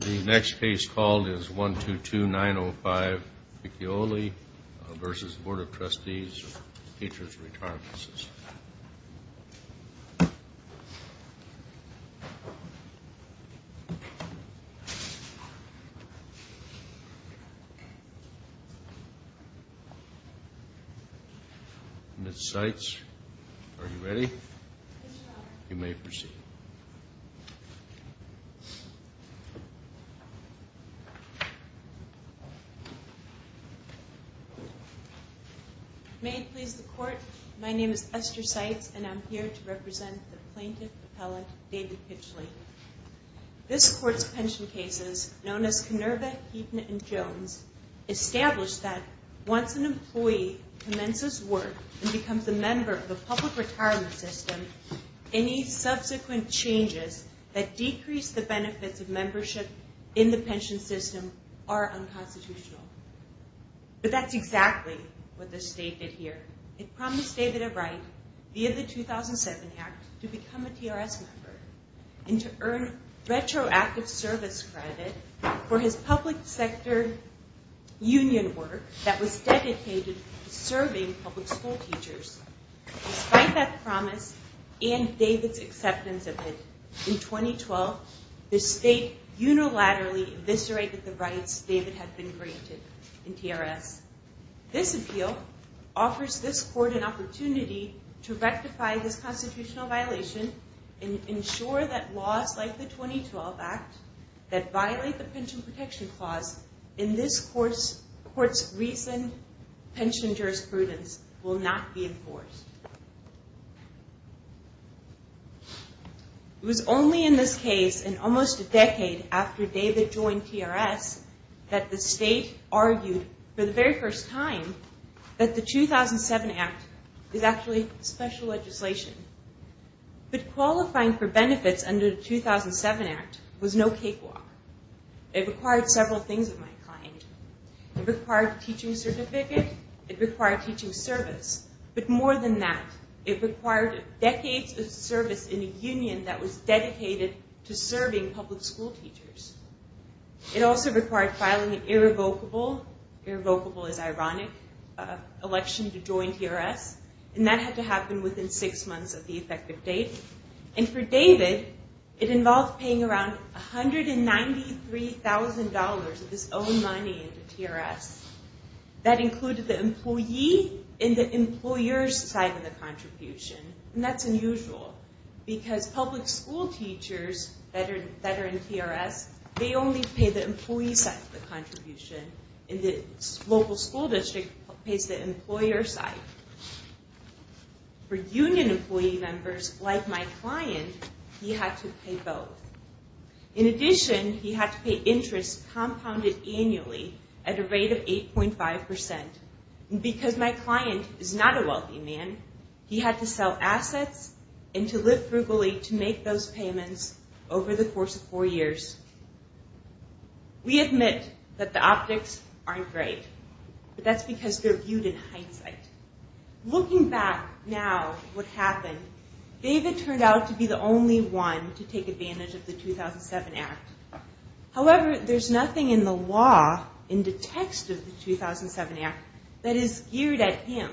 The next case called is 122-905 Piccioli v. Board of Trustees of the Teachers Retirement System Ms. Seitz, are you ready? Yes, sir You may proceed May it please the Court, my name is Esther Seitz and I'm here to represent the Plaintiff-Appellate David Piccioli. This Court's pension cases, known as Kenerva, Heaton, and Jones, establish that once an employee commences work and becomes a member of the public retirement system, any subsequent changes that decrease the benefits of membership in the pension system are unconstitutional. But that's exactly what the State did here. It promised David a right, via the 2007 Act, to become a TRS member and to earn retroactive service credit for his public sector union work that was dedicated to serving public school teachers. Despite that promise and David's acceptance of it, in 2012, the State unilaterally eviscerated the rights David had been granted in TRS. This appeal offers this Court an opportunity to rectify this constitutional violation and ensure that laws like the 2012 Act that violate the Pension Protection Clause in this Court's recent pension jurisprudence will not be enforced. It was only in this case, and almost a decade after David joined TRS, that the State argued, for the very first time, that the 2007 Act is actually special legislation. But qualifying for benefits under the 2007 Act was no cakewalk. It required several things of my kind. It required a teaching certificate. It required teaching service. But more than that, it required decades of service in a union that was dedicated to serving public school teachers. It also required filing an irrevocable, irrevocable is ironic, election to join TRS. And that had to happen within six months of the effective date. And for David, it involved paying around $193,000 of his own money into TRS. That included the employee and the employer's side of the contribution. And that's unusual. Because public school teachers that are in TRS, they only pay the employee side of the contribution. And the local school district pays the employer side. For union employee members like my client, he had to pay both. In addition, he had to pay interest compounded annually at a rate of 8.5%. And because my client is not a wealthy man, he had to sell assets and to live frugally to make those payments over the course of four years. We admit that the optics aren't great. But that's because they're viewed in hindsight. Looking back now, what happened, David turned out to be the only one to take advantage of the 2007 Act. However, there's nothing in the law, in the text of the 2007 Act, that is geared at him.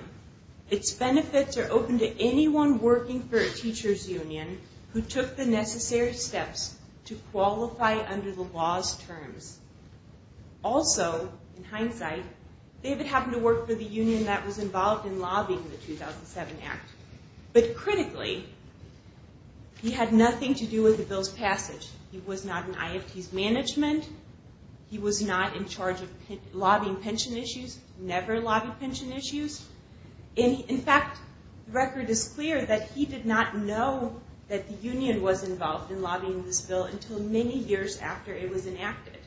Its benefits are open to anyone working for a teacher's union who took the necessary steps to qualify under the law's terms. Also, in hindsight, David happened to work for the union that was involved in lobbying the 2007 Act. But critically, he had nothing to do with the bill's passage. He was not in IFT's management. He was not in charge of lobbying pension issues. Never lobbied pension issues. In fact, the record is clear that he did not know that the union was involved in lobbying this bill until many years after it was enacted.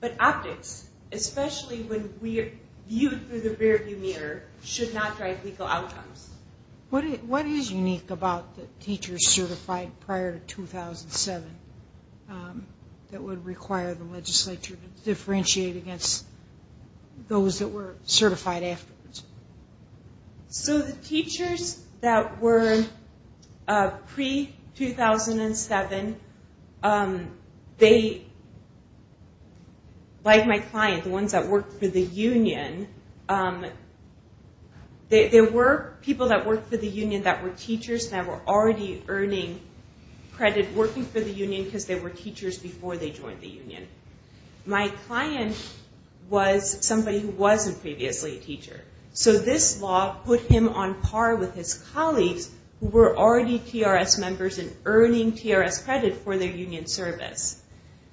But optics, especially when viewed through the rearview mirror, should not drive legal outcomes. What is unique about the teachers certified prior to 2007 that would require the legislature to differentiate against those that were certified afterwards? So the teachers that were pre-2007, like my client, the ones that worked for the union, there were people that worked for the union that were teachers that were already earning credit working for the union because they were teachers before they joined the union. My client was somebody who wasn't previously a teacher. So this law put him on par with his colleagues who were already TRS members and earning TRS credit for their union service.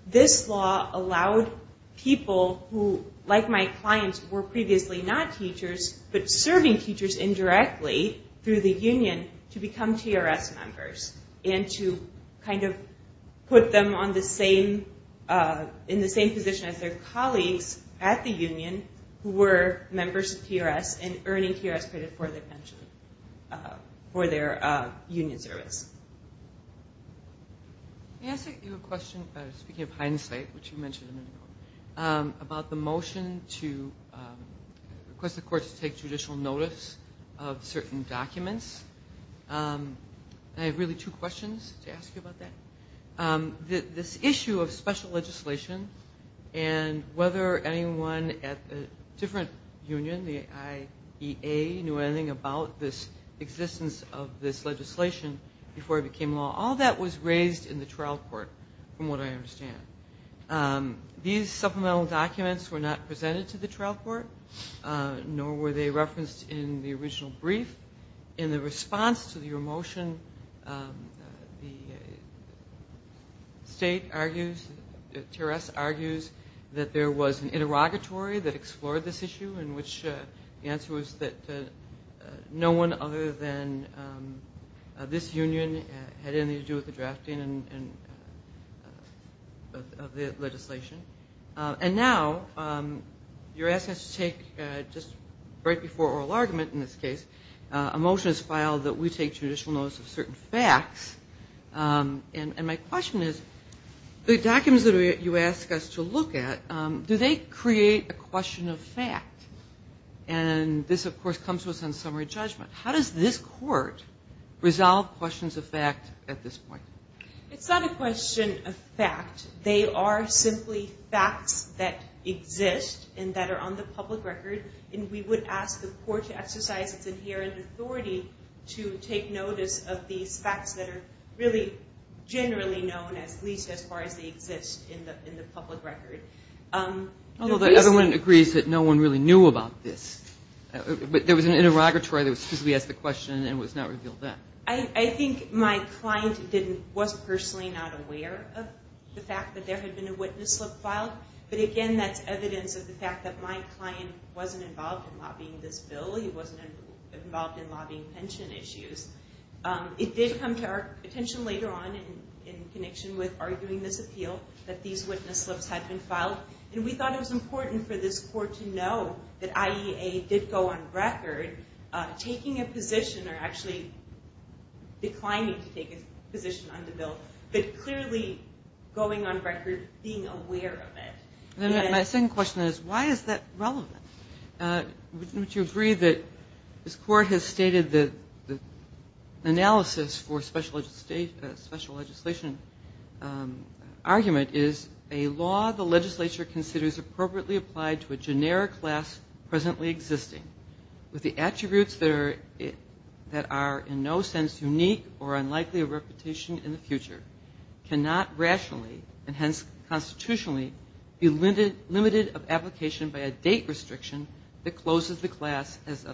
This law allowed people who, like my client, were previously not teachers but serving teachers indirectly through the union to become TRS members. And to kind of put them in the same position as their colleagues at the union who were members of TRS and earning TRS credit for their union service. Can I ask you a question, speaking of hindsight, which you mentioned a minute ago, about the motion to request the court to take judicial notice of certain documents? I have really two questions to ask you about that. This issue of special legislation and whether anyone at the different union, the IEA, knew anything about this existence of this legislation before it became law, all that was raised in the trial court, from what I understand. These supplemental documents were not presented to the trial court, nor were they referenced in the original brief. In the response to your motion, the state argues, TRS argues, that there was an interrogatory that explored this issue, in which the answer was that no one other than this union had anything to do with the drafting of the legislation. And now, you're asking us to take, just right before oral argument in this case, a motion is filed that we take judicial notice of certain facts. And my question is, the documents that you ask us to look at, do they create a question of fact? And this, of course, comes with some summary judgment. How does this court resolve questions of fact at this point? It's not a question of fact. They are simply facts that exist and that are on the public record. And we would ask the court to exercise its inherent authority to take notice of these facts that are really generally known, at least as far as they exist in the public record. Although, everyone agrees that no one really knew about this. But there was an interrogatory that specifically asked the question, and it was not revealed then. I think my client was personally not aware of the fact that there had been a witness slip filed. But again, that's evidence of the fact that my client wasn't involved in lobbying this bill. He wasn't involved in lobbying pension issues. It did come to our attention later on, in connection with arguing this appeal, that these witness slips had been filed. And we thought it was important for this court to know that IEA did go on record taking a position, or actually declining to take a position on the bill, but clearly going on record being aware of it. My second question is, why is that relevant? Wouldn't you agree that this court has stated that the analysis for special legislation argument is a law the legislature considers appropriately applied to a generic class presently existing, with the attributes that are in no sense unique or unlikely of reputation in the future, cannot rationally, and hence constitutionally, be limited of application by a date restriction that closes the class as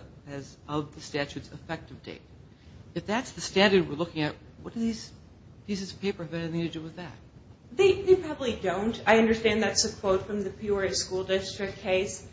of the statute's effective date? If that's the standard we're looking at, what do these pieces of paper have anything to do with that? They probably don't. I understand that's a quote from the Peoria School District case.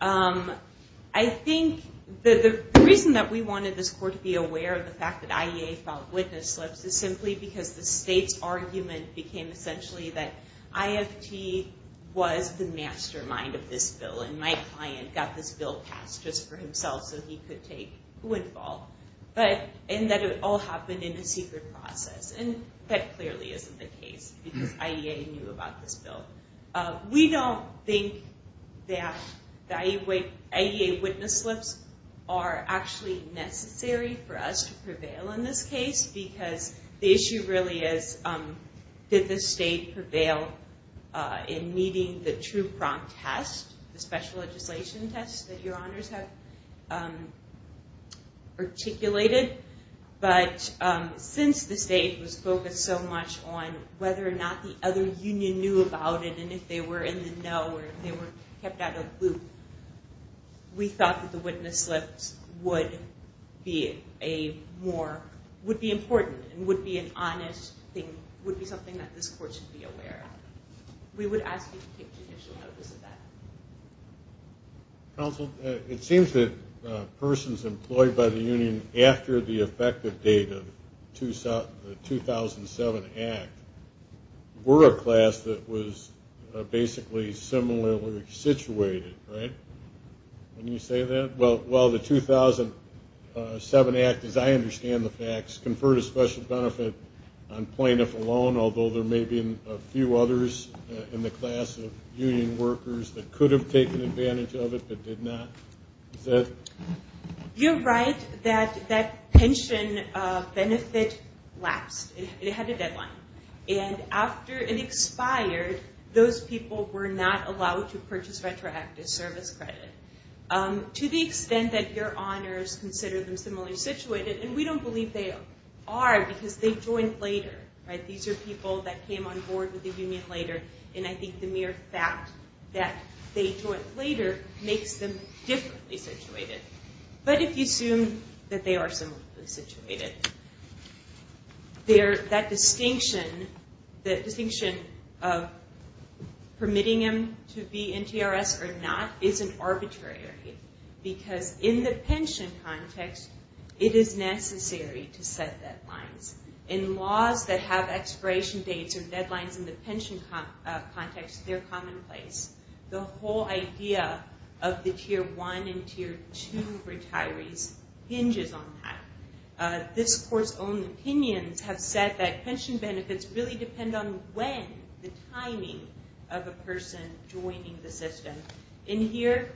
I think the reason that we wanted this court to be aware of the fact that IEA filed witness slips is simply because the state's argument became essentially that IFT was the mastermind of this bill, and my client got this bill passed just for himself so he could take footfall, and that it all happened in a secret process. And that clearly isn't the case, because IEA knew about this bill. We don't think that the IEA witness slips are actually necessary for us to prevail in this case, because the issue really is, did the state prevail in meeting the true prompt test, the special legislation test that your honors have articulated? But since the state was focused so much on whether or not the other union knew about it, and if they were in the know or if they were kept out of the loop, we thought that the witness slips would be important and would be an honest thing, would be something that this court should be aware of. We would ask you to take judicial notice of that. Counsel, it seems that persons employed by the union after the effective date of the 2007 Act were a class that was basically similarly situated, right? Can you say that? Well, the 2007 Act, as I understand the facts, conferred a special benefit on plaintiff alone, although there may have been a few others in the class of union workers that could have taken advantage of it but did not. You're right that that pension benefit lapsed. It had a deadline. And after it expired, those people were not allowed to purchase retroactive service credit. To the extent that your honors consider them similarly situated, and we don't believe they are, because they joined later, right? These are people that came on board with the union later, and I think the mere fact that they joined later makes them differently situated. But if you assume that they are similarly situated, that distinction of permitting them to be in TRS or not isn't arbitrary because in the pension context, it is necessary to set deadlines. In laws that have expiration dates or deadlines in the pension context, they're commonplace. The whole idea of the Tier 1 and Tier 2 retirees hinges on that. This Court's own opinions have said that pension benefits really depend on when, the timing of a person joining the system. In here,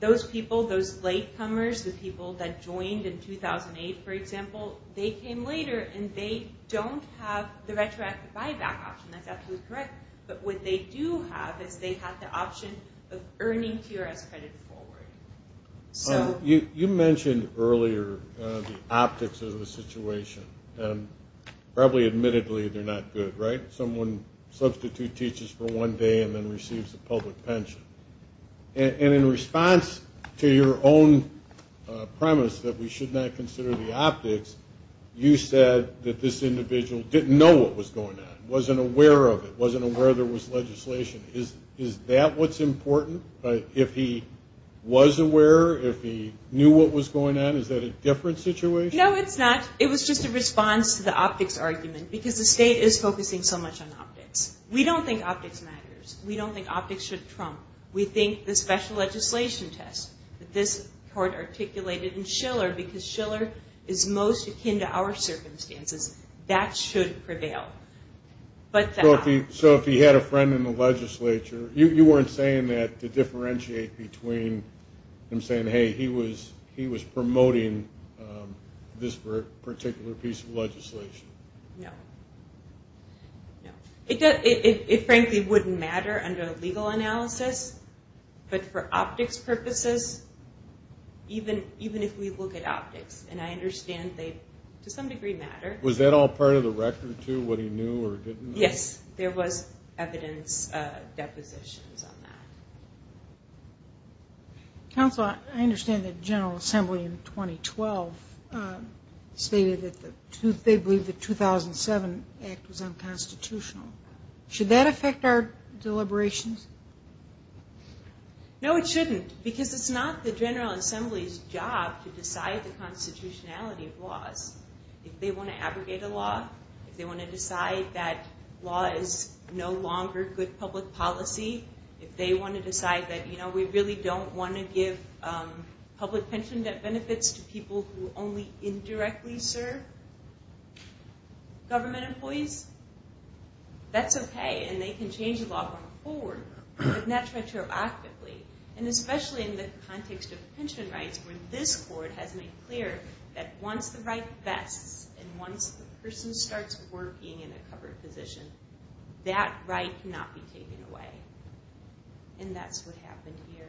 those people, those latecomers, the people that joined in 2008, for example, they came later and they don't have the retroactive buyback option. That's absolutely correct. But what they do have is they have the option of earning TRS credit forward. You mentioned earlier the optics of the situation. Probably admittedly, they're not good, right? Someone substitutes teachers for one day and then receives a public pension. In response to your own premise that we should not consider the optics, you said that this individual didn't know what was going on, wasn't aware of it, wasn't aware there was legislation. Is that what's important? If he was aware, if he knew what was going on, is that a different situation? No, it's not. It was just a response to the optics argument because the state is focusing so much on optics. We don't think optics matters. We don't think optics should trump. We think the special legislation test that this court articulated in Schiller because Schiller is most akin to our circumstances, that should prevail. So if he had a friend in the legislature, you weren't saying that to differentiate between him saying, hey, he was promoting this particular piece of legislation? No. No. It frankly wouldn't matter under a legal analysis, but for optics purposes, even if we look at optics, and I understand they to some degree matter. Was that all part of the record too, what he knew or didn't know? Yes, there was evidence, depositions on that. Counsel, I understand that the General Assembly in 2012 stated that they believe the 2007 Act was unconstitutional. Should that affect our deliberations? No, it shouldn't because it's not the General Assembly's job to decide the constitutionality of laws. If they want to abrogate a law, if they want to decide that law is no longer good public policy, if they want to decide that, you know, we really don't want to give public pension benefits to people who only indirectly serve government employees, that's okay, and they can change the law going forward, but not retroactively, and especially in the context of pension rights where this court has made clear that once the right vests and once the person starts working in a covered position, that right cannot be taken away. And that's what happened here.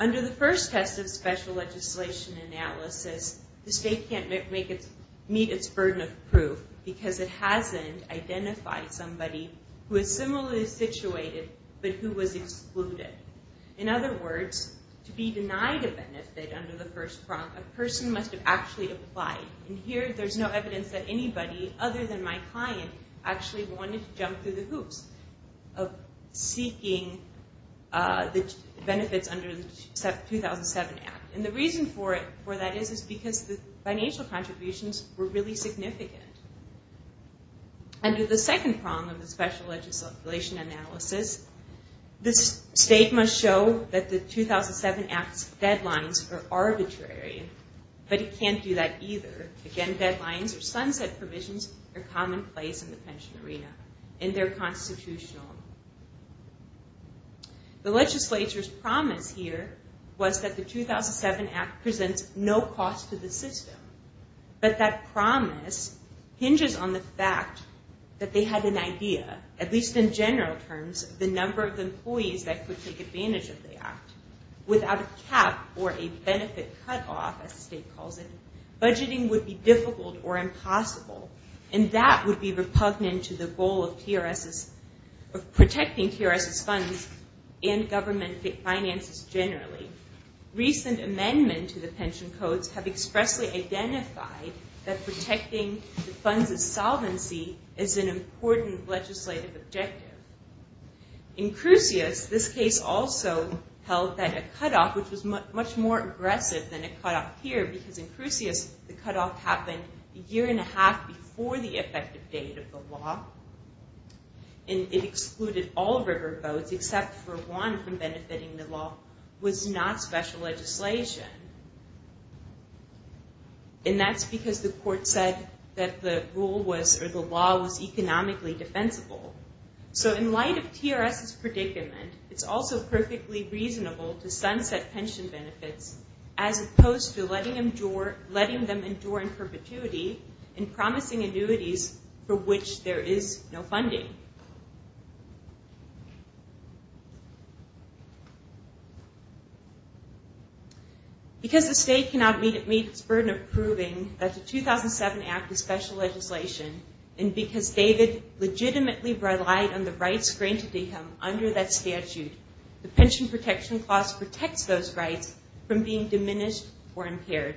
Under the first test of special legislation analysis, the state can't meet its burden of proof because it hasn't identified somebody who is similarly situated but who was excluded. In other words, to be denied a benefit under the first prompt, a person must have actually applied. And here there's no evidence that anybody other than my client actually wanted to jump through the hoops of seeking the benefits under the 2007 Act. And the reason for that is because the financial contributions were really significant. Under the second prompt of the special legislation analysis, the state must show that the 2007 Act's deadlines are arbitrary, but it can't do that either. Again, deadlines or sunset provisions are commonplace in the pension arena, and they're constitutional. The legislature's promise here was that the 2007 Act presents no cost to the system. But that promise hinges on the fact that they had an idea, at least in general terms, of the number of employees that could take advantage of the Act. Without a cap or a benefit cutoff, as the state calls it, budgeting would be difficult or impossible, and that would be repugnant to the goal of PRS's, of protecting TRS's funds and government finances generally. Recent amendments to the pension codes have expressly identified that protecting the funds' solvency is an important legislative objective. In Crucius, this case also held that a cutoff, which was much more aggressive than a cutoff here, because in Crucius, the cutoff happened a year and a half before the effective date of the law, and it excluded all riverboats, except for one from benefiting the law, was not special legislation. And that's because the court said that the rule was, or the law was economically defensible. So in light of TRS's predicament, it's also perfectly reasonable to sunset pension benefits as opposed to letting them endure in perpetuity and promising annuities for which there is no funding. Because the state cannot meet its burden of proving that the 2007 Act is special legislation, and because David legitimately relied on the rights granted to him under that statute, the Pension Protection Clause protects those rights from being diminished or impaired.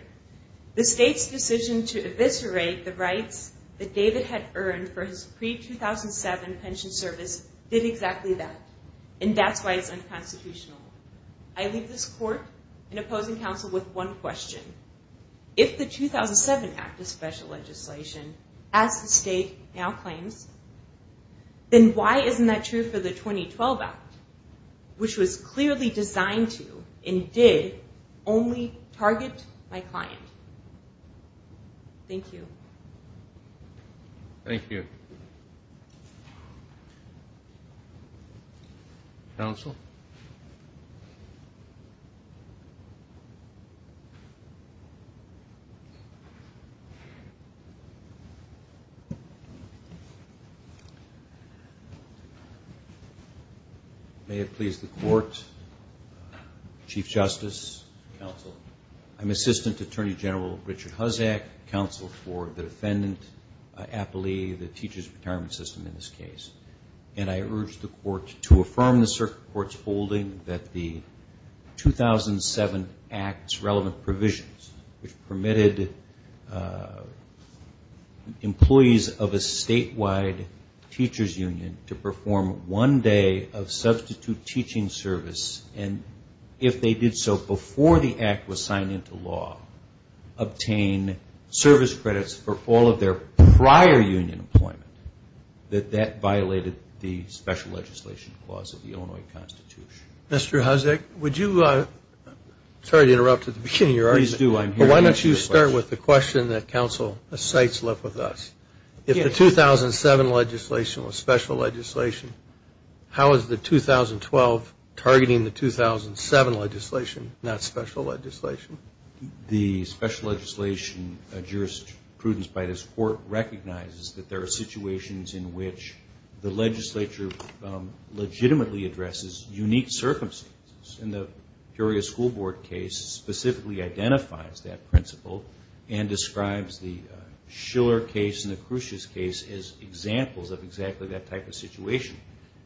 The state's decision to eviscerate the rights that David had earned for his pre-2007 pension service did exactly that, and that's why it's unconstitutional. I leave this court and opposing counsel with one question. If the 2007 Act is special legislation, as the state now claims, then why isn't that true for the 2012 Act, which was clearly designed to and did only target my client? Thank you. Thank you. Counsel? Thank you. May it please the court, Chief Justice, counsel. I'm Assistant Attorney General Richard Huzzack, counsel for the defendant, appellee of the Teachers Retirement System in this case, and I urge the court to affirm the circuit court's holding that the 2007 Act's relevant provisions, which permitted employees of a statewide teacher's union to perform one day of substitute teaching service, and if they did so before the Act was signed into law, obtain service credits for all of their prior union employment, that that violated the special legislation clause of the Illinois Constitution. Mr. Huzzack, would you, sorry to interrupt at the beginning of your argument, but why don't you start with the question that counsel cites left with us. If the 2007 legislation was special legislation, how is the 2012 targeting the 2007 legislation, not special legislation? The special legislation jurisprudence by this court recognizes that there are situations in which the legislature legitimately addresses unique circumstances, and the Peoria School Board case specifically identifies that principle and describes the Schiller case and the Crucious case as examples of exactly that type of situation.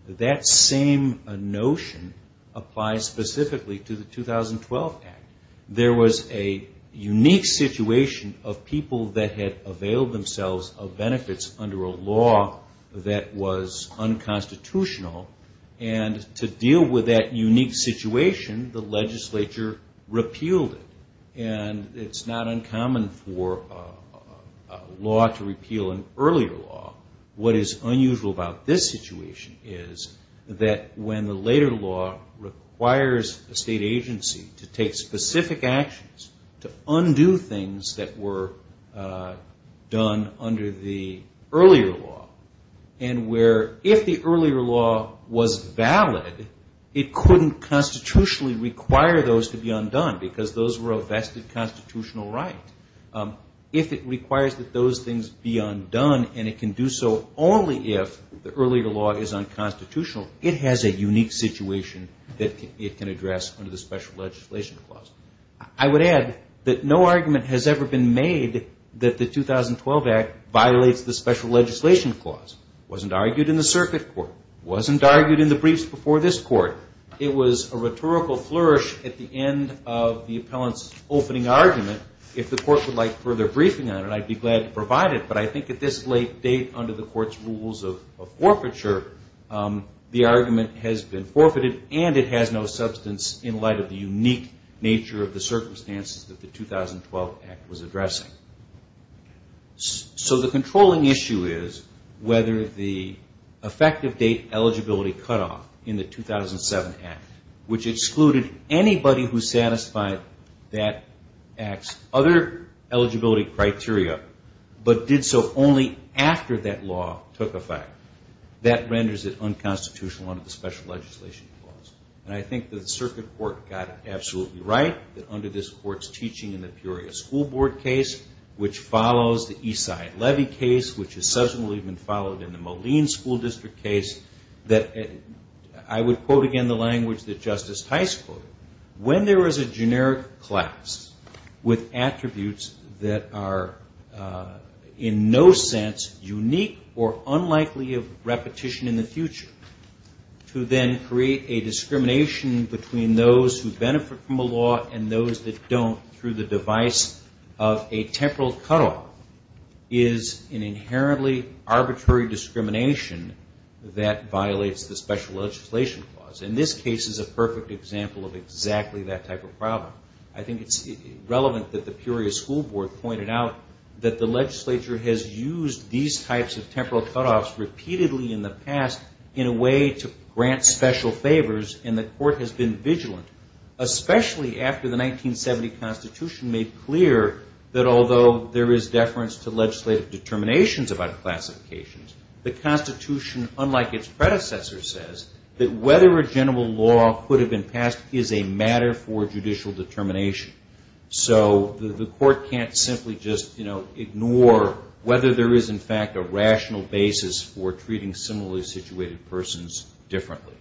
That same notion applies specifically to the 2012 Act. There was a unique situation of people that had availed themselves of benefits under a law that was unconstitutional, and to deal with that unique situation, the legislature repealed it. And it's not uncommon for a law to repeal an earlier law. What is unusual about this situation is that when the later law requires a state agency to take specific actions to undo things that were done under the earlier law, and where if the earlier law was valid, it couldn't constitutionally require those to be undone because those were a vested constitutional right. If it requires that those things be undone, and it can do so only if the earlier law is unconstitutional, it has a unique situation that it can address under the special legislation clause. I would add that no argument has ever been made that the 2012 Act violates the special legislation clause. It wasn't argued in the circuit court. It wasn't argued in the briefs before this court. It was a rhetorical flourish at the end of the appellant's opening argument. If the court would like further briefing on it, I'd be glad to provide it, but I think at this late date, under the court's rules of forfeiture, the argument has been forfeited, and it has no substance in light of the unique nature of the circumstances that the 2012 Act was addressing. So the controlling issue is whether the effective date eligibility cutoff in the 2007 Act, which excluded anybody who satisfied that Act's other eligibility criteria, but did so only after that law took effect, that renders it unconstitutional under the special legislation clause. And I think the circuit court got it absolutely right that under this court's teaching in the Peoria School Board case, which follows the Eastside Levy case, which has subsequently been followed in the Moline School District case, that I would quote again the language that Justice Heist quoted, when there is a generic class with attributes that are in no sense unique or unlikely of repetition in the future, to then create a discrimination between those who benefit from a law and those that don't through the device of a temporal cutoff is an inherently arbitrary discrimination that violates the special legislation clause. And this case is a perfect example of exactly that type of problem. I think it's relevant that the Peoria School Board pointed out that the legislature has used these types of temporal cutoffs repeatedly in the past in a way to grant special favors, and the court has been vigilant, especially after the 1970 Constitution made clear that although there is deference to legislative determinations about classifications, the Constitution, unlike its predecessor, says that whether a general law could have been passed is a matter for judicial determination. So the court can't simply just ignore whether there is, in fact, a rational basis for treating similarly situated persons differently.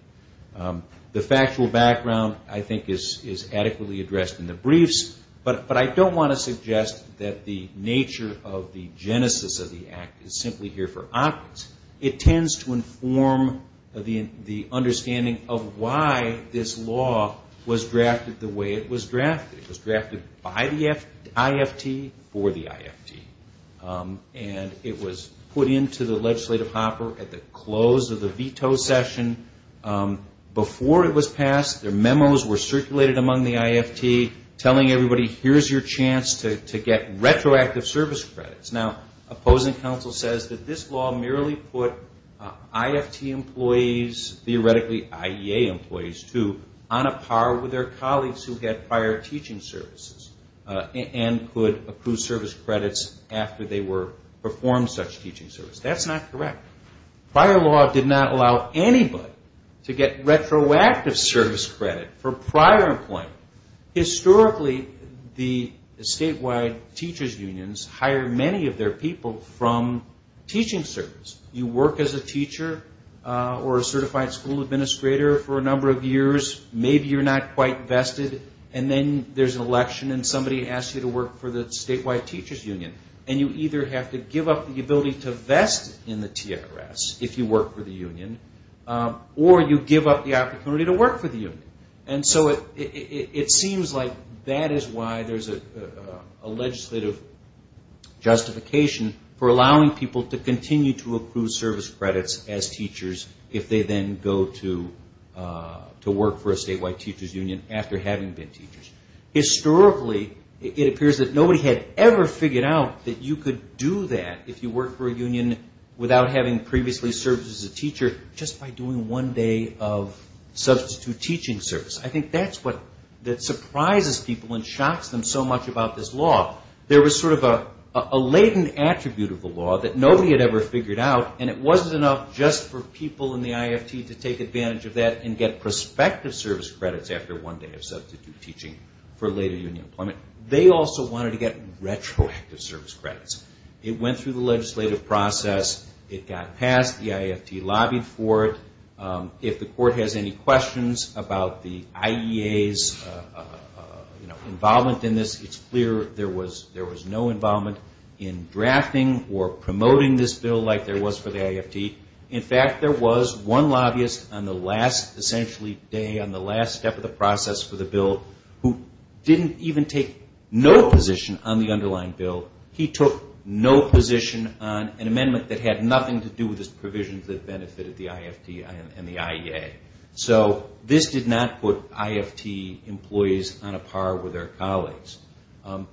The factual background, I think, is adequately addressed in the briefs, but I don't want to suggest that the nature of the genesis of the act is simply here for optics. It tends to inform the understanding of why this law was drafted the way it was drafted. It was drafted by the IFT for the IFT, and it was put into the legislative hopper at the close of the veto session. Before it was passed, their memos were circulated among the IFT telling everybody, here's your chance to get retroactive service credits. Now, opposing counsel says that this law merely put IFT employees, theoretically IEA employees, too, on a par with their colleagues who had prior teaching services and could approve service credits after they performed such teaching service. That's not correct. Prior law did not allow anybody to get retroactive service credit for prior employment. Historically, the statewide teachers' unions hired many of their people from teaching service. You work as a teacher or a certified school administrator for a number of years. Maybe you're not quite vested, and then there's an election and somebody asks you to work for the statewide teachers' union, and you either have to give up the ability to vest in the TRS if you work for the union, or you give up the opportunity to work for the union. And so it seems like that is why there's a legislative justification for allowing people to continue to approve service credits as teachers if they then go to work for a statewide teachers' union after having been teachers. Historically, it appears that nobody had ever figured out that you could do that if you worked for a union without having previously served as a teacher just by doing one day of substitute teaching service. I think that's what surprises people and shocks them so much about this law. There was sort of a latent attribute of the law that nobody had ever figured out, and it wasn't enough just for people in the IFT to take advantage of that and get prospective service credits after one day of substitute teaching for later union employment. They also wanted to get retroactive service credits. It went through the legislative process. It got passed. The IFT lobbied for it. If the court has any questions about the IEA's involvement in this, it's clear there was no involvement in drafting or promoting this bill like there was for the IFT. In fact, there was one lobbyist on the last, essentially, day, on the last step of the process for the bill who didn't even take no position on the underlying bill. He took no position on an amendment that had nothing to do with his provisions that benefited the IFT and the IEA. So this did not put IFT employees on a par with their colleagues. And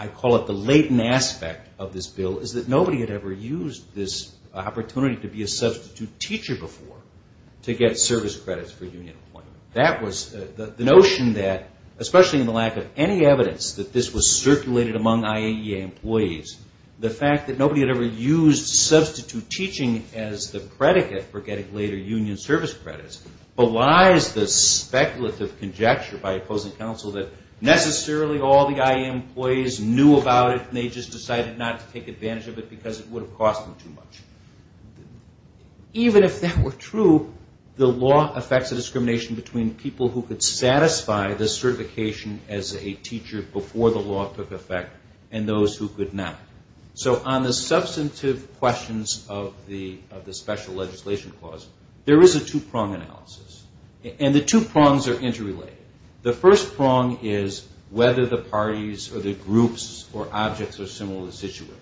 I call it the latent aspect of this bill is that nobody had ever used this opportunity to be a substitute teacher before to get service credits for union employment. The notion that, especially in the lack of any evidence that this was circulated among IAEA employees, the fact that nobody had ever used substitute teaching as the predicate for getting later union service credits belies the speculative conjecture by opposing counsel that necessarily all the IAEA employees knew about it and they just decided not to take advantage of it because it would have cost them too much. Even if that were true, the law affects a discrimination between people who could satisfy this certification as a teacher before the law took effect and those who could not. So on the substantive questions of the special legislation clause, there is a two-prong analysis. And the two prongs are interrelated. The first prong is whether the parties or the groups or objects are similarly situated.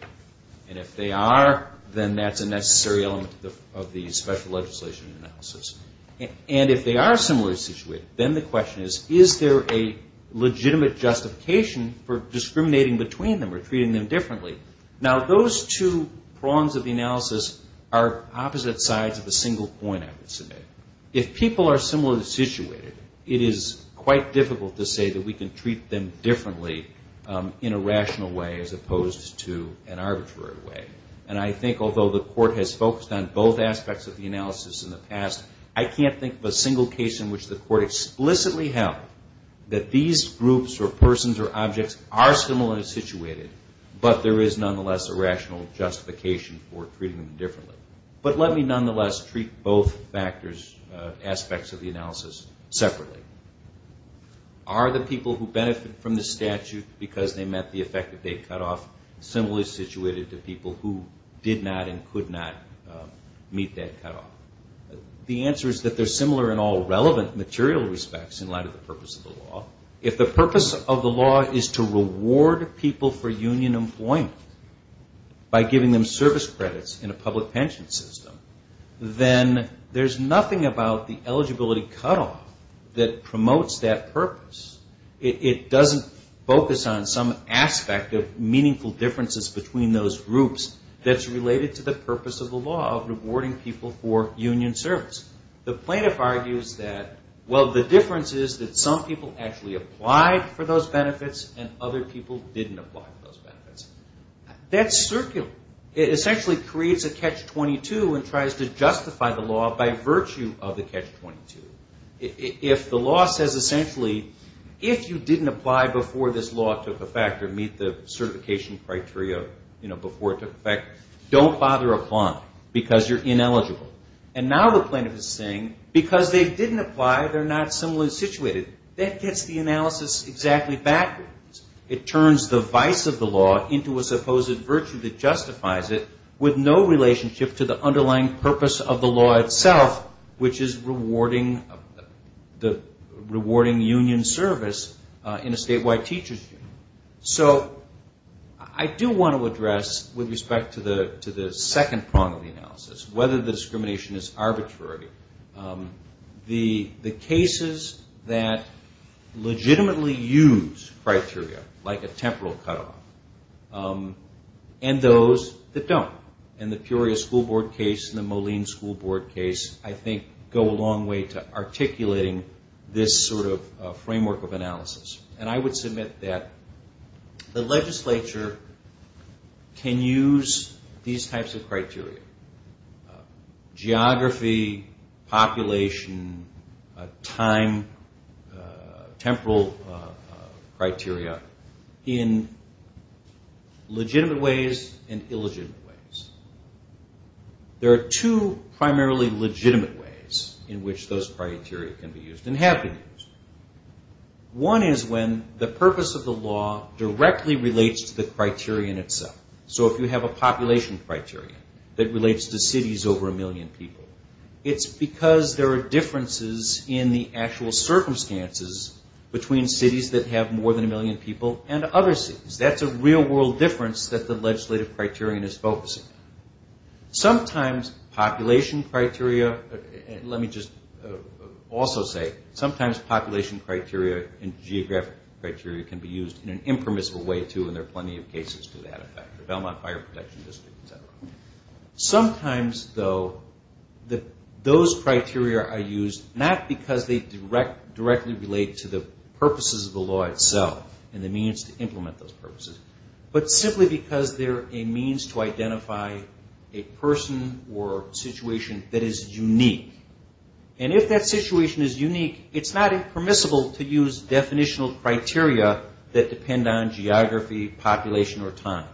And if they are, then that's a necessary element of the special legislation analysis. And if they are similarly situated, then the question is, is there a legitimate justification for discriminating between them or treating them differently? Now those two prongs of the analysis are opposite sides of a single point, I would submit. If people are similarly situated, it is quite difficult to say that we can treat them differently in a rational way as opposed to an arbitrary way. And I think although the court has focused on both aspects of the analysis in the past, I can't think of a single case in which the court explicitly held that these groups or persons or objects are similarly situated, but there is nonetheless a rational justification for treating them differently. But let me nonetheless treat both aspects of the analysis separately. Are the people who benefit from the statute because they met the effect that they cut off similarly situated to people who did not and could not meet that cutoff? The answer is that they're similar in all relevant material respects in light of the purpose of the law. If the purpose of the law is to reward people for union employment by giving them service credits in a public pension system, then there's nothing about the eligibility cutoff that promotes that purpose. It doesn't focus on some aspect of meaningful differences between those groups that's related to the purpose of the law of rewarding people for union service. The plaintiff argues that, well, the difference is that some people actually applied for those benefits and other people didn't apply for those benefits. That's circular. It essentially creates a catch-22 and tries to justify the law by virtue of the catch-22. If the law says essentially, if you didn't apply before this law took effect or meet the certification criteria before it took effect, don't bother applying because you're ineligible. And now the plaintiff is saying, because they didn't apply, they're not similarly situated. That gets the analysis exactly backwards. It turns the vice of the law into a supposed virtue that justifies it with no relationship to the underlying purpose of the law itself, which is rewarding union service in a statewide teacher's union. So I do want to address, with respect to the second prong of the analysis, whether the discrimination is arbitrary, the cases that legitimately use criteria, like a temporal cutoff, and those that don't. And the Peoria School Board case and the Moline School Board case, I think, go a long way to articulating this sort of framework of analysis. And I would submit that the legislature can use these types of criteria, geography, population, time, temporal criteria, in legitimate ways and illegitimate ways. There are two primarily legitimate ways in which those criteria can be used and have been used. One is when the purpose of the law directly relates to the criteria in itself. So if you have a population criteria that relates to cities over a million people, it's because there are differences in the actual circumstances between cities that have more than a million people and other cities. That's a real-world difference that the legislative criterion is focusing on. Sometimes population criteria, let me just also say, sometimes population criteria and geographic criteria can be used in an impermissible way, too, and there are plenty of cases to that effect, Belmont Fire Protection District, et cetera. Sometimes, though, those criteria are used not because they directly relate to the purposes of the law itself and the means to implement those purposes, but simply because they're a means to identify a person or situation that is unique. And if that situation is unique, it's not impermissible to use definitional criteria that depend on geography, population, or time.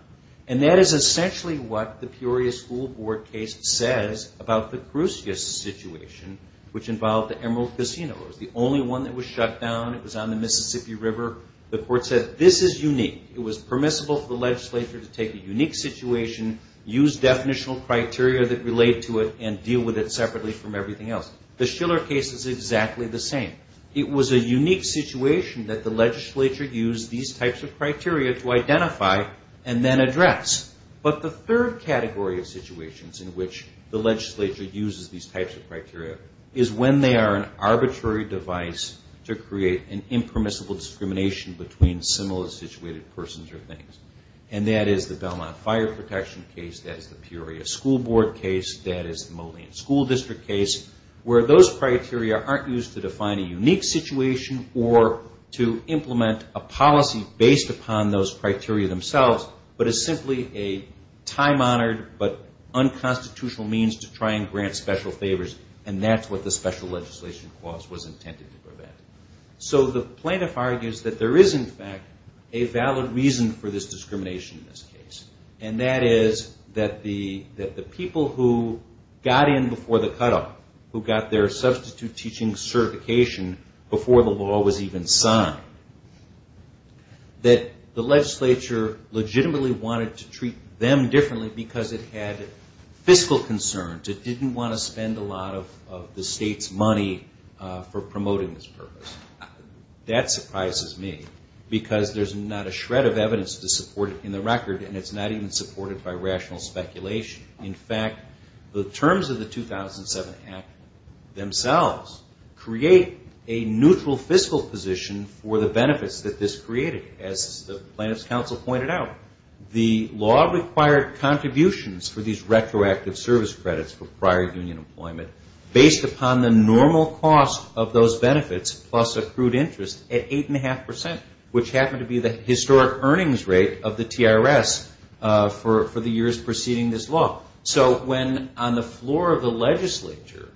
And that is essentially what the Peoria School Board case says about the Crucious situation, which involved the Emerald Casino. It was the only one that was shut down. It was on the Mississippi River. The court said, this is unique. It was permissible for the legislature to take a unique situation, use definitional criteria that relate to it, and deal with it separately from everything else. The Schiller case is exactly the same. It was a unique situation that the legislature used these types of criteria to identify and then address. But the third category of situations in which the legislature uses these types of criteria is when they are an arbitrary device to create an impermissible discrimination between similar situated persons or things. And that is the Belmont Fire Protection case. That is the Peoria School Board case. That is the Moline School District case, where those criteria aren't used to define a unique situation or to implement a policy based upon those criteria themselves, but is simply a time-honored but unconstitutional means to try and grant special favors. And that's what the special legislation clause was intended to prevent. So the plaintiff argues that there is, in fact, a valid reason for this discrimination in this case. And that is that the people who got in before the cutoff, who got their substitute teaching certification before the law was even signed, that the legislature legitimately wanted to treat them differently because it had fiscal concerns. It didn't want to spend a lot of the state's money for promoting this purpose. That surprises me because there's not a shred of evidence to support it in the record, and it's not even supported by rational speculation. In fact, the terms of the 2007 Act themselves create a neutral fiscal position for the benefits that this created. As the plaintiff's counsel pointed out, the law required contributions for these retroactive service credits for prior union employment based upon the normal cost of those benefits plus accrued interest at 8.5 percent, which happened to be the historic earnings rate of the TRS for the years preceding this law. So when on the floor of the legislature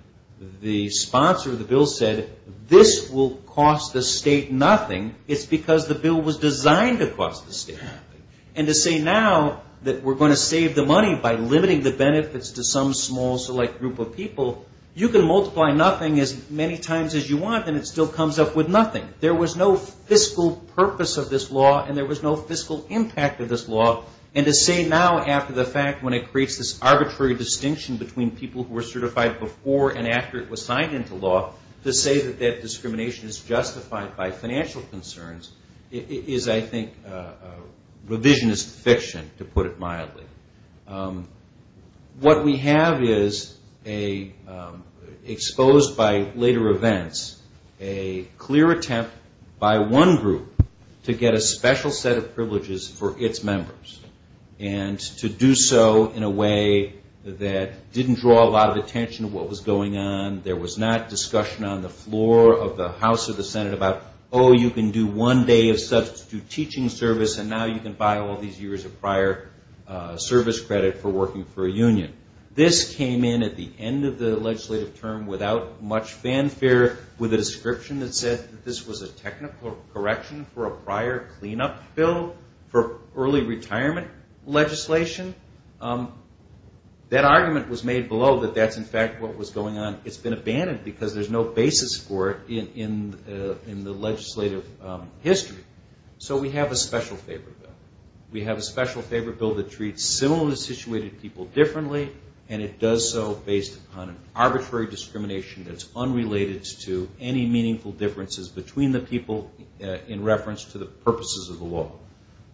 the sponsor of the bill said, this will cost the state nothing, it's because the bill was designed to cost the state nothing. And to say now that we're going to save the money by limiting the benefits to some small select group of people, you can multiply nothing as many times as you want and it still comes up with nothing. There was no fiscal purpose of this law and there was no fiscal impact of this law. And to say now after the fact, when it creates this arbitrary distinction between people who were certified before and after it was signed into law, to say that that discrimination is justified by financial concerns is I think revisionist fiction to put it mildly. What we have is exposed by later events a clear attempt by one group to get a special set of privileges for its members and to do so in a way that didn't draw a lot of attention to what was going on. There was not discussion on the floor of the House or the Senate about oh, you can do one day of substitute teaching service and now you can buy all these years of prior service credit for working for a union. This came in at the end of the legislative term without much fanfare with a description that said this was a technical correction for a prior cleanup bill for early retirement legislation. That argument was made below that that's in fact what was going on. It's been abandoned because there's no basis for it in the legislative history. So we have a special favor bill. We have a special favor bill that treats similarly situated people differently and it does so based on an arbitrary discrimination that's unrelated to any meaningful differences between the people in reference to the purposes of the law.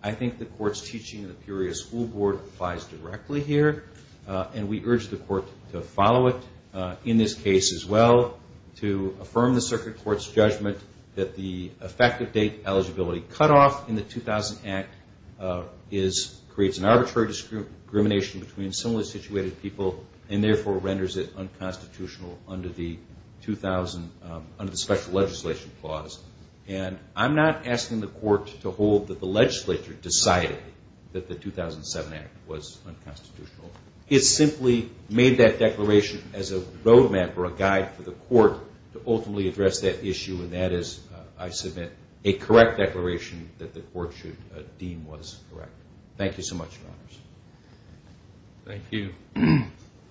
I think the court's teaching of the Peoria School Board applies directly here and we urge the court to follow it in this case as well to affirm the circuit court's judgment that the effective date eligibility cutoff in the 2000 Act creates an arbitrary discrimination between similarly situated people and therefore renders it unconstitutional under the special legislation clause. And I'm not asking the court to hold that the legislature decided that the 2007 Act was unconstitutional. It simply made that declaration as a roadmap or a guide for the court to ultimately address that issue and that is, I submit, a correct declaration that the court should deem was correct. Thank you so much, Your Honors. Thank you.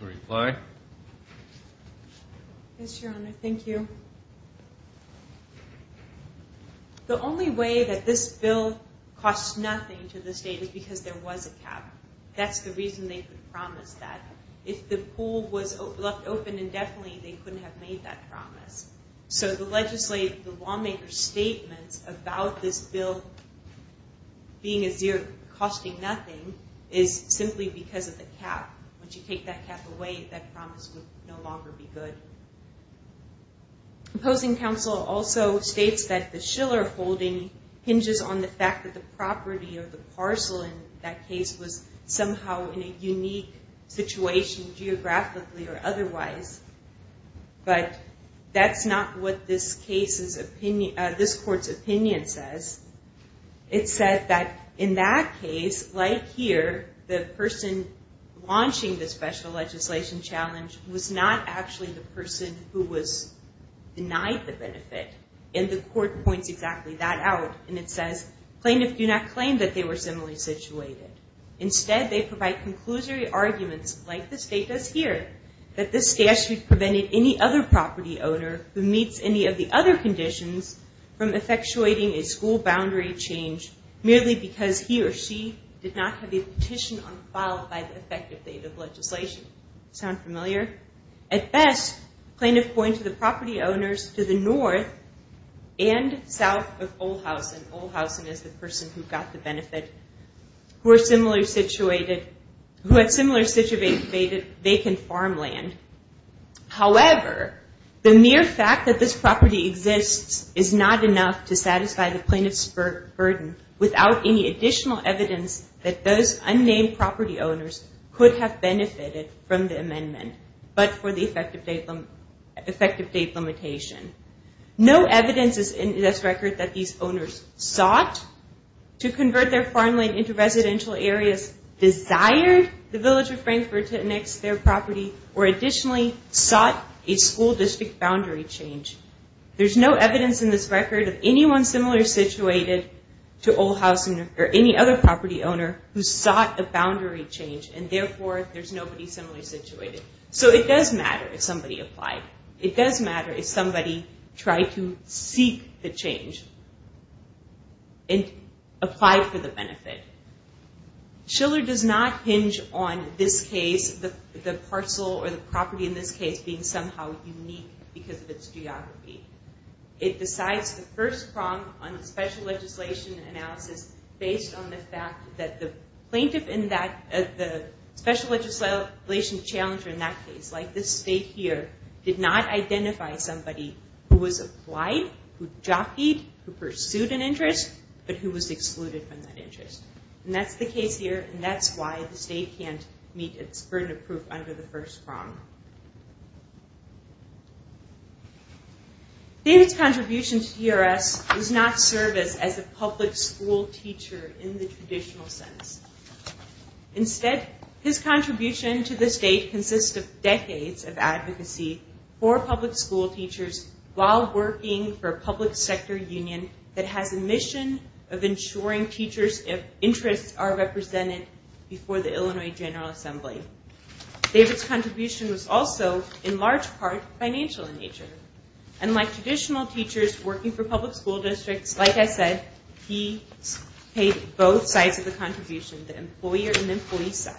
A reply? Yes, Your Honor. Thank you. The only way that this bill costs nothing to the state is because there was a cap. That's the reason they could promise that. If the pool was left open indefinitely, they couldn't have made that promise. So the lawmakers' statements about this bill being a zero, costing nothing, is simply because of the cap. Once you take that cap away, that promise would no longer be good. Opposing counsel also states that the Schiller holding hinges on the fact that the property or the parcel in that case was somehow in a unique situation geographically or otherwise. But that's not what this court's opinion says. It says that in that case, like here, the person launching the special legislation challenge was not actually the person who was denied the benefit. And the court points exactly that out. And it says, plaintiffs do not claim that they were similarly situated. Instead, they provide conclusory arguments, like the state does here, that this statute prevented any other property owner who meets any of the other boundary change merely because he or she did not have a petition on file by the effective date of legislation. Sound familiar? At best, plaintiffs point to the property owners to the north and south of Olhausen. Olhausen is the person who got the benefit, who had similar situated vacant farmland. However, the mere fact that this property exists is not enough to satisfy the plaintiff's burden without any additional evidence that those unnamed property owners could have benefited from the amendment but for the effective date limitation. No evidence is in this record that these owners sought to convert their farmland into residential areas, desired the village of Frankfort to annex their property, or additionally sought a school district boundary change. There's no evidence in this record of anyone similar situated to Olhausen or any other property owner who sought a boundary change, and therefore there's nobody similarly situated. So it does matter if somebody applied. It does matter if somebody tried to seek the change and applied for the benefit. Schiller does not hinge on this case, the parcel or the property in this case being somehow unique because of its geography. It decides the first prong on the special legislation analysis based on the fact that the plaintiff in that, the special legislation challenger in that case, like this state here, did not identify somebody who was applied, who jockeyed, who pursued an interest, but who was excluded from that interest. And that's the case here, and that's why the state can't meet its burden of the first prong. David's contribution to TRS does not serve us as a public school teacher in the traditional sense. Instead, his contribution to the state consists of decades of advocacy for public school teachers while working for a public sector union that has a mission of ensuring teachers' interests are represented before the Illinois General Assembly. David's contribution was also, in large part, financial in nature. And like traditional teachers working for public school districts, like I said, he paid both sides of the contribution, the employer and employee side.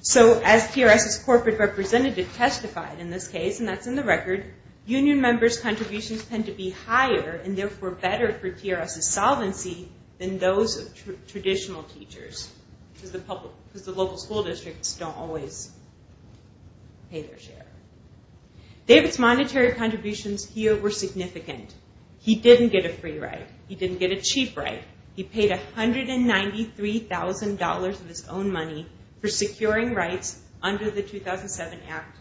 So as TRS's corporate representative testified in this case, and that's in the record, union members' contributions tend to be higher and therefore better for TRS's solvency than those of traditional teachers because the local school districts don't always pay their share. David's monetary contributions here were significant. He didn't get a free ride. He didn't get a cheap ride. He paid $193,000 of his own money for securing rights under the 2007 Act.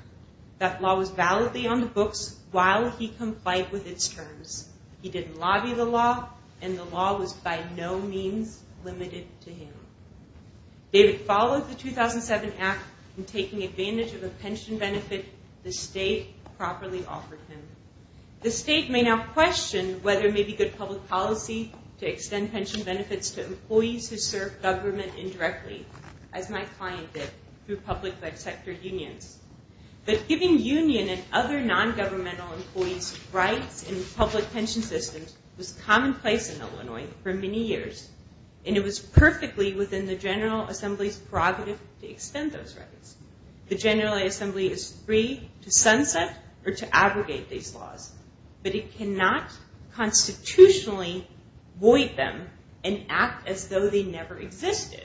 That law was validly on the books while he complied with its terms. He didn't lobby the law, and the law was by no means limited to him. David followed the 2007 Act in taking advantage of a pension benefit the state properly offered him. The state may now question whether it may be good public policy to extend pension benefits to employees who serve government indirectly, as my client did through public sector unions. But giving union and other non-governmental employees rights in public pension systems was commonplace in Illinois for many years, and it was perfectly within the General Assembly's prerogative to extend those rights. The General Assembly is free to sunset or to abrogate these laws, but it cannot constitutionally void them and act as though they never existed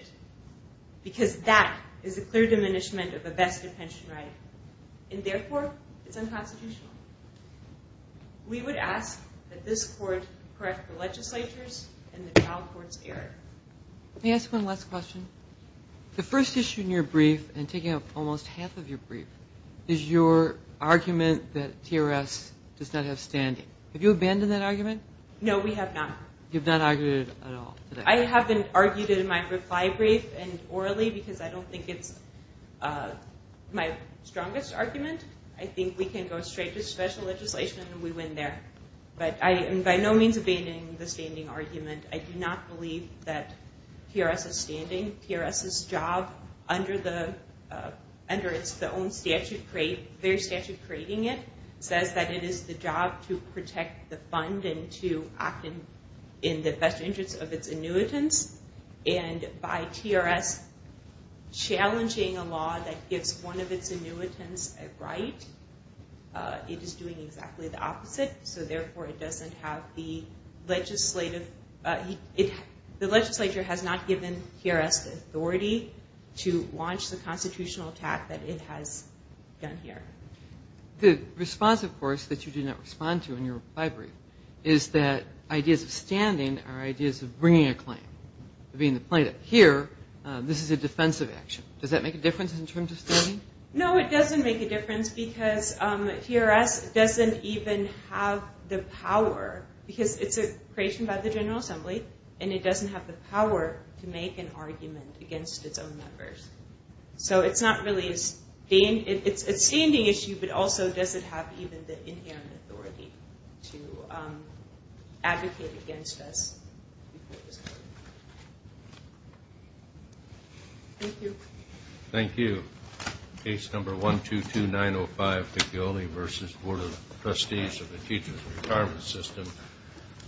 because that is a clear diminishment of the best pension right, and therefore it's unconstitutional. We would ask that this court correct the legislature's and the trial court's error. Let me ask one last question. The first issue in your brief, and taking up almost half of your brief, is your argument that TRS does not have standing. Have you abandoned that argument? No, we have not. You've not argued it at all? I haven't argued it in my reply brief and orally because I don't think it's my strongest argument. I think we can go straight to special legislation and we win there. But I am by no means abandoning the standing argument. I do not believe that TRS is standing. TRS's job under its own statute, their statute creating it, says that it is the job to protect the fund and to act in the best interest of its annuitants, and by TRS challenging a law that gives one of its annuitants a right, it is doing exactly the opposite. So, therefore, it doesn't have the legislative, the legislature has not given TRS the authority to launch the constitutional attack that it has done here. The response, of course, that you do not respond to in your reply brief is that ideas of standing are ideas of bringing a claim, being the plaintiff. Here, this is a defensive action. Does that make a difference in terms of standing? No, it doesn't make a difference because TRS doesn't even have the power, because it's a creation by the General Assembly, and it doesn't have the power to make an argument against its own members. So it's not really a standing issue, but also doesn't have even the inherent authority to advocate against us. Thank you. Thank you. Case number 122-905, Piccioli v. Board of Trustees of the Teachers Retirement System,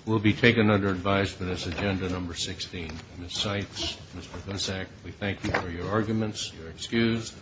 will be taken under advisement as agenda number 16. Ms. Seitz, Mr. Gusak, we thank you for your arguments. You're excused.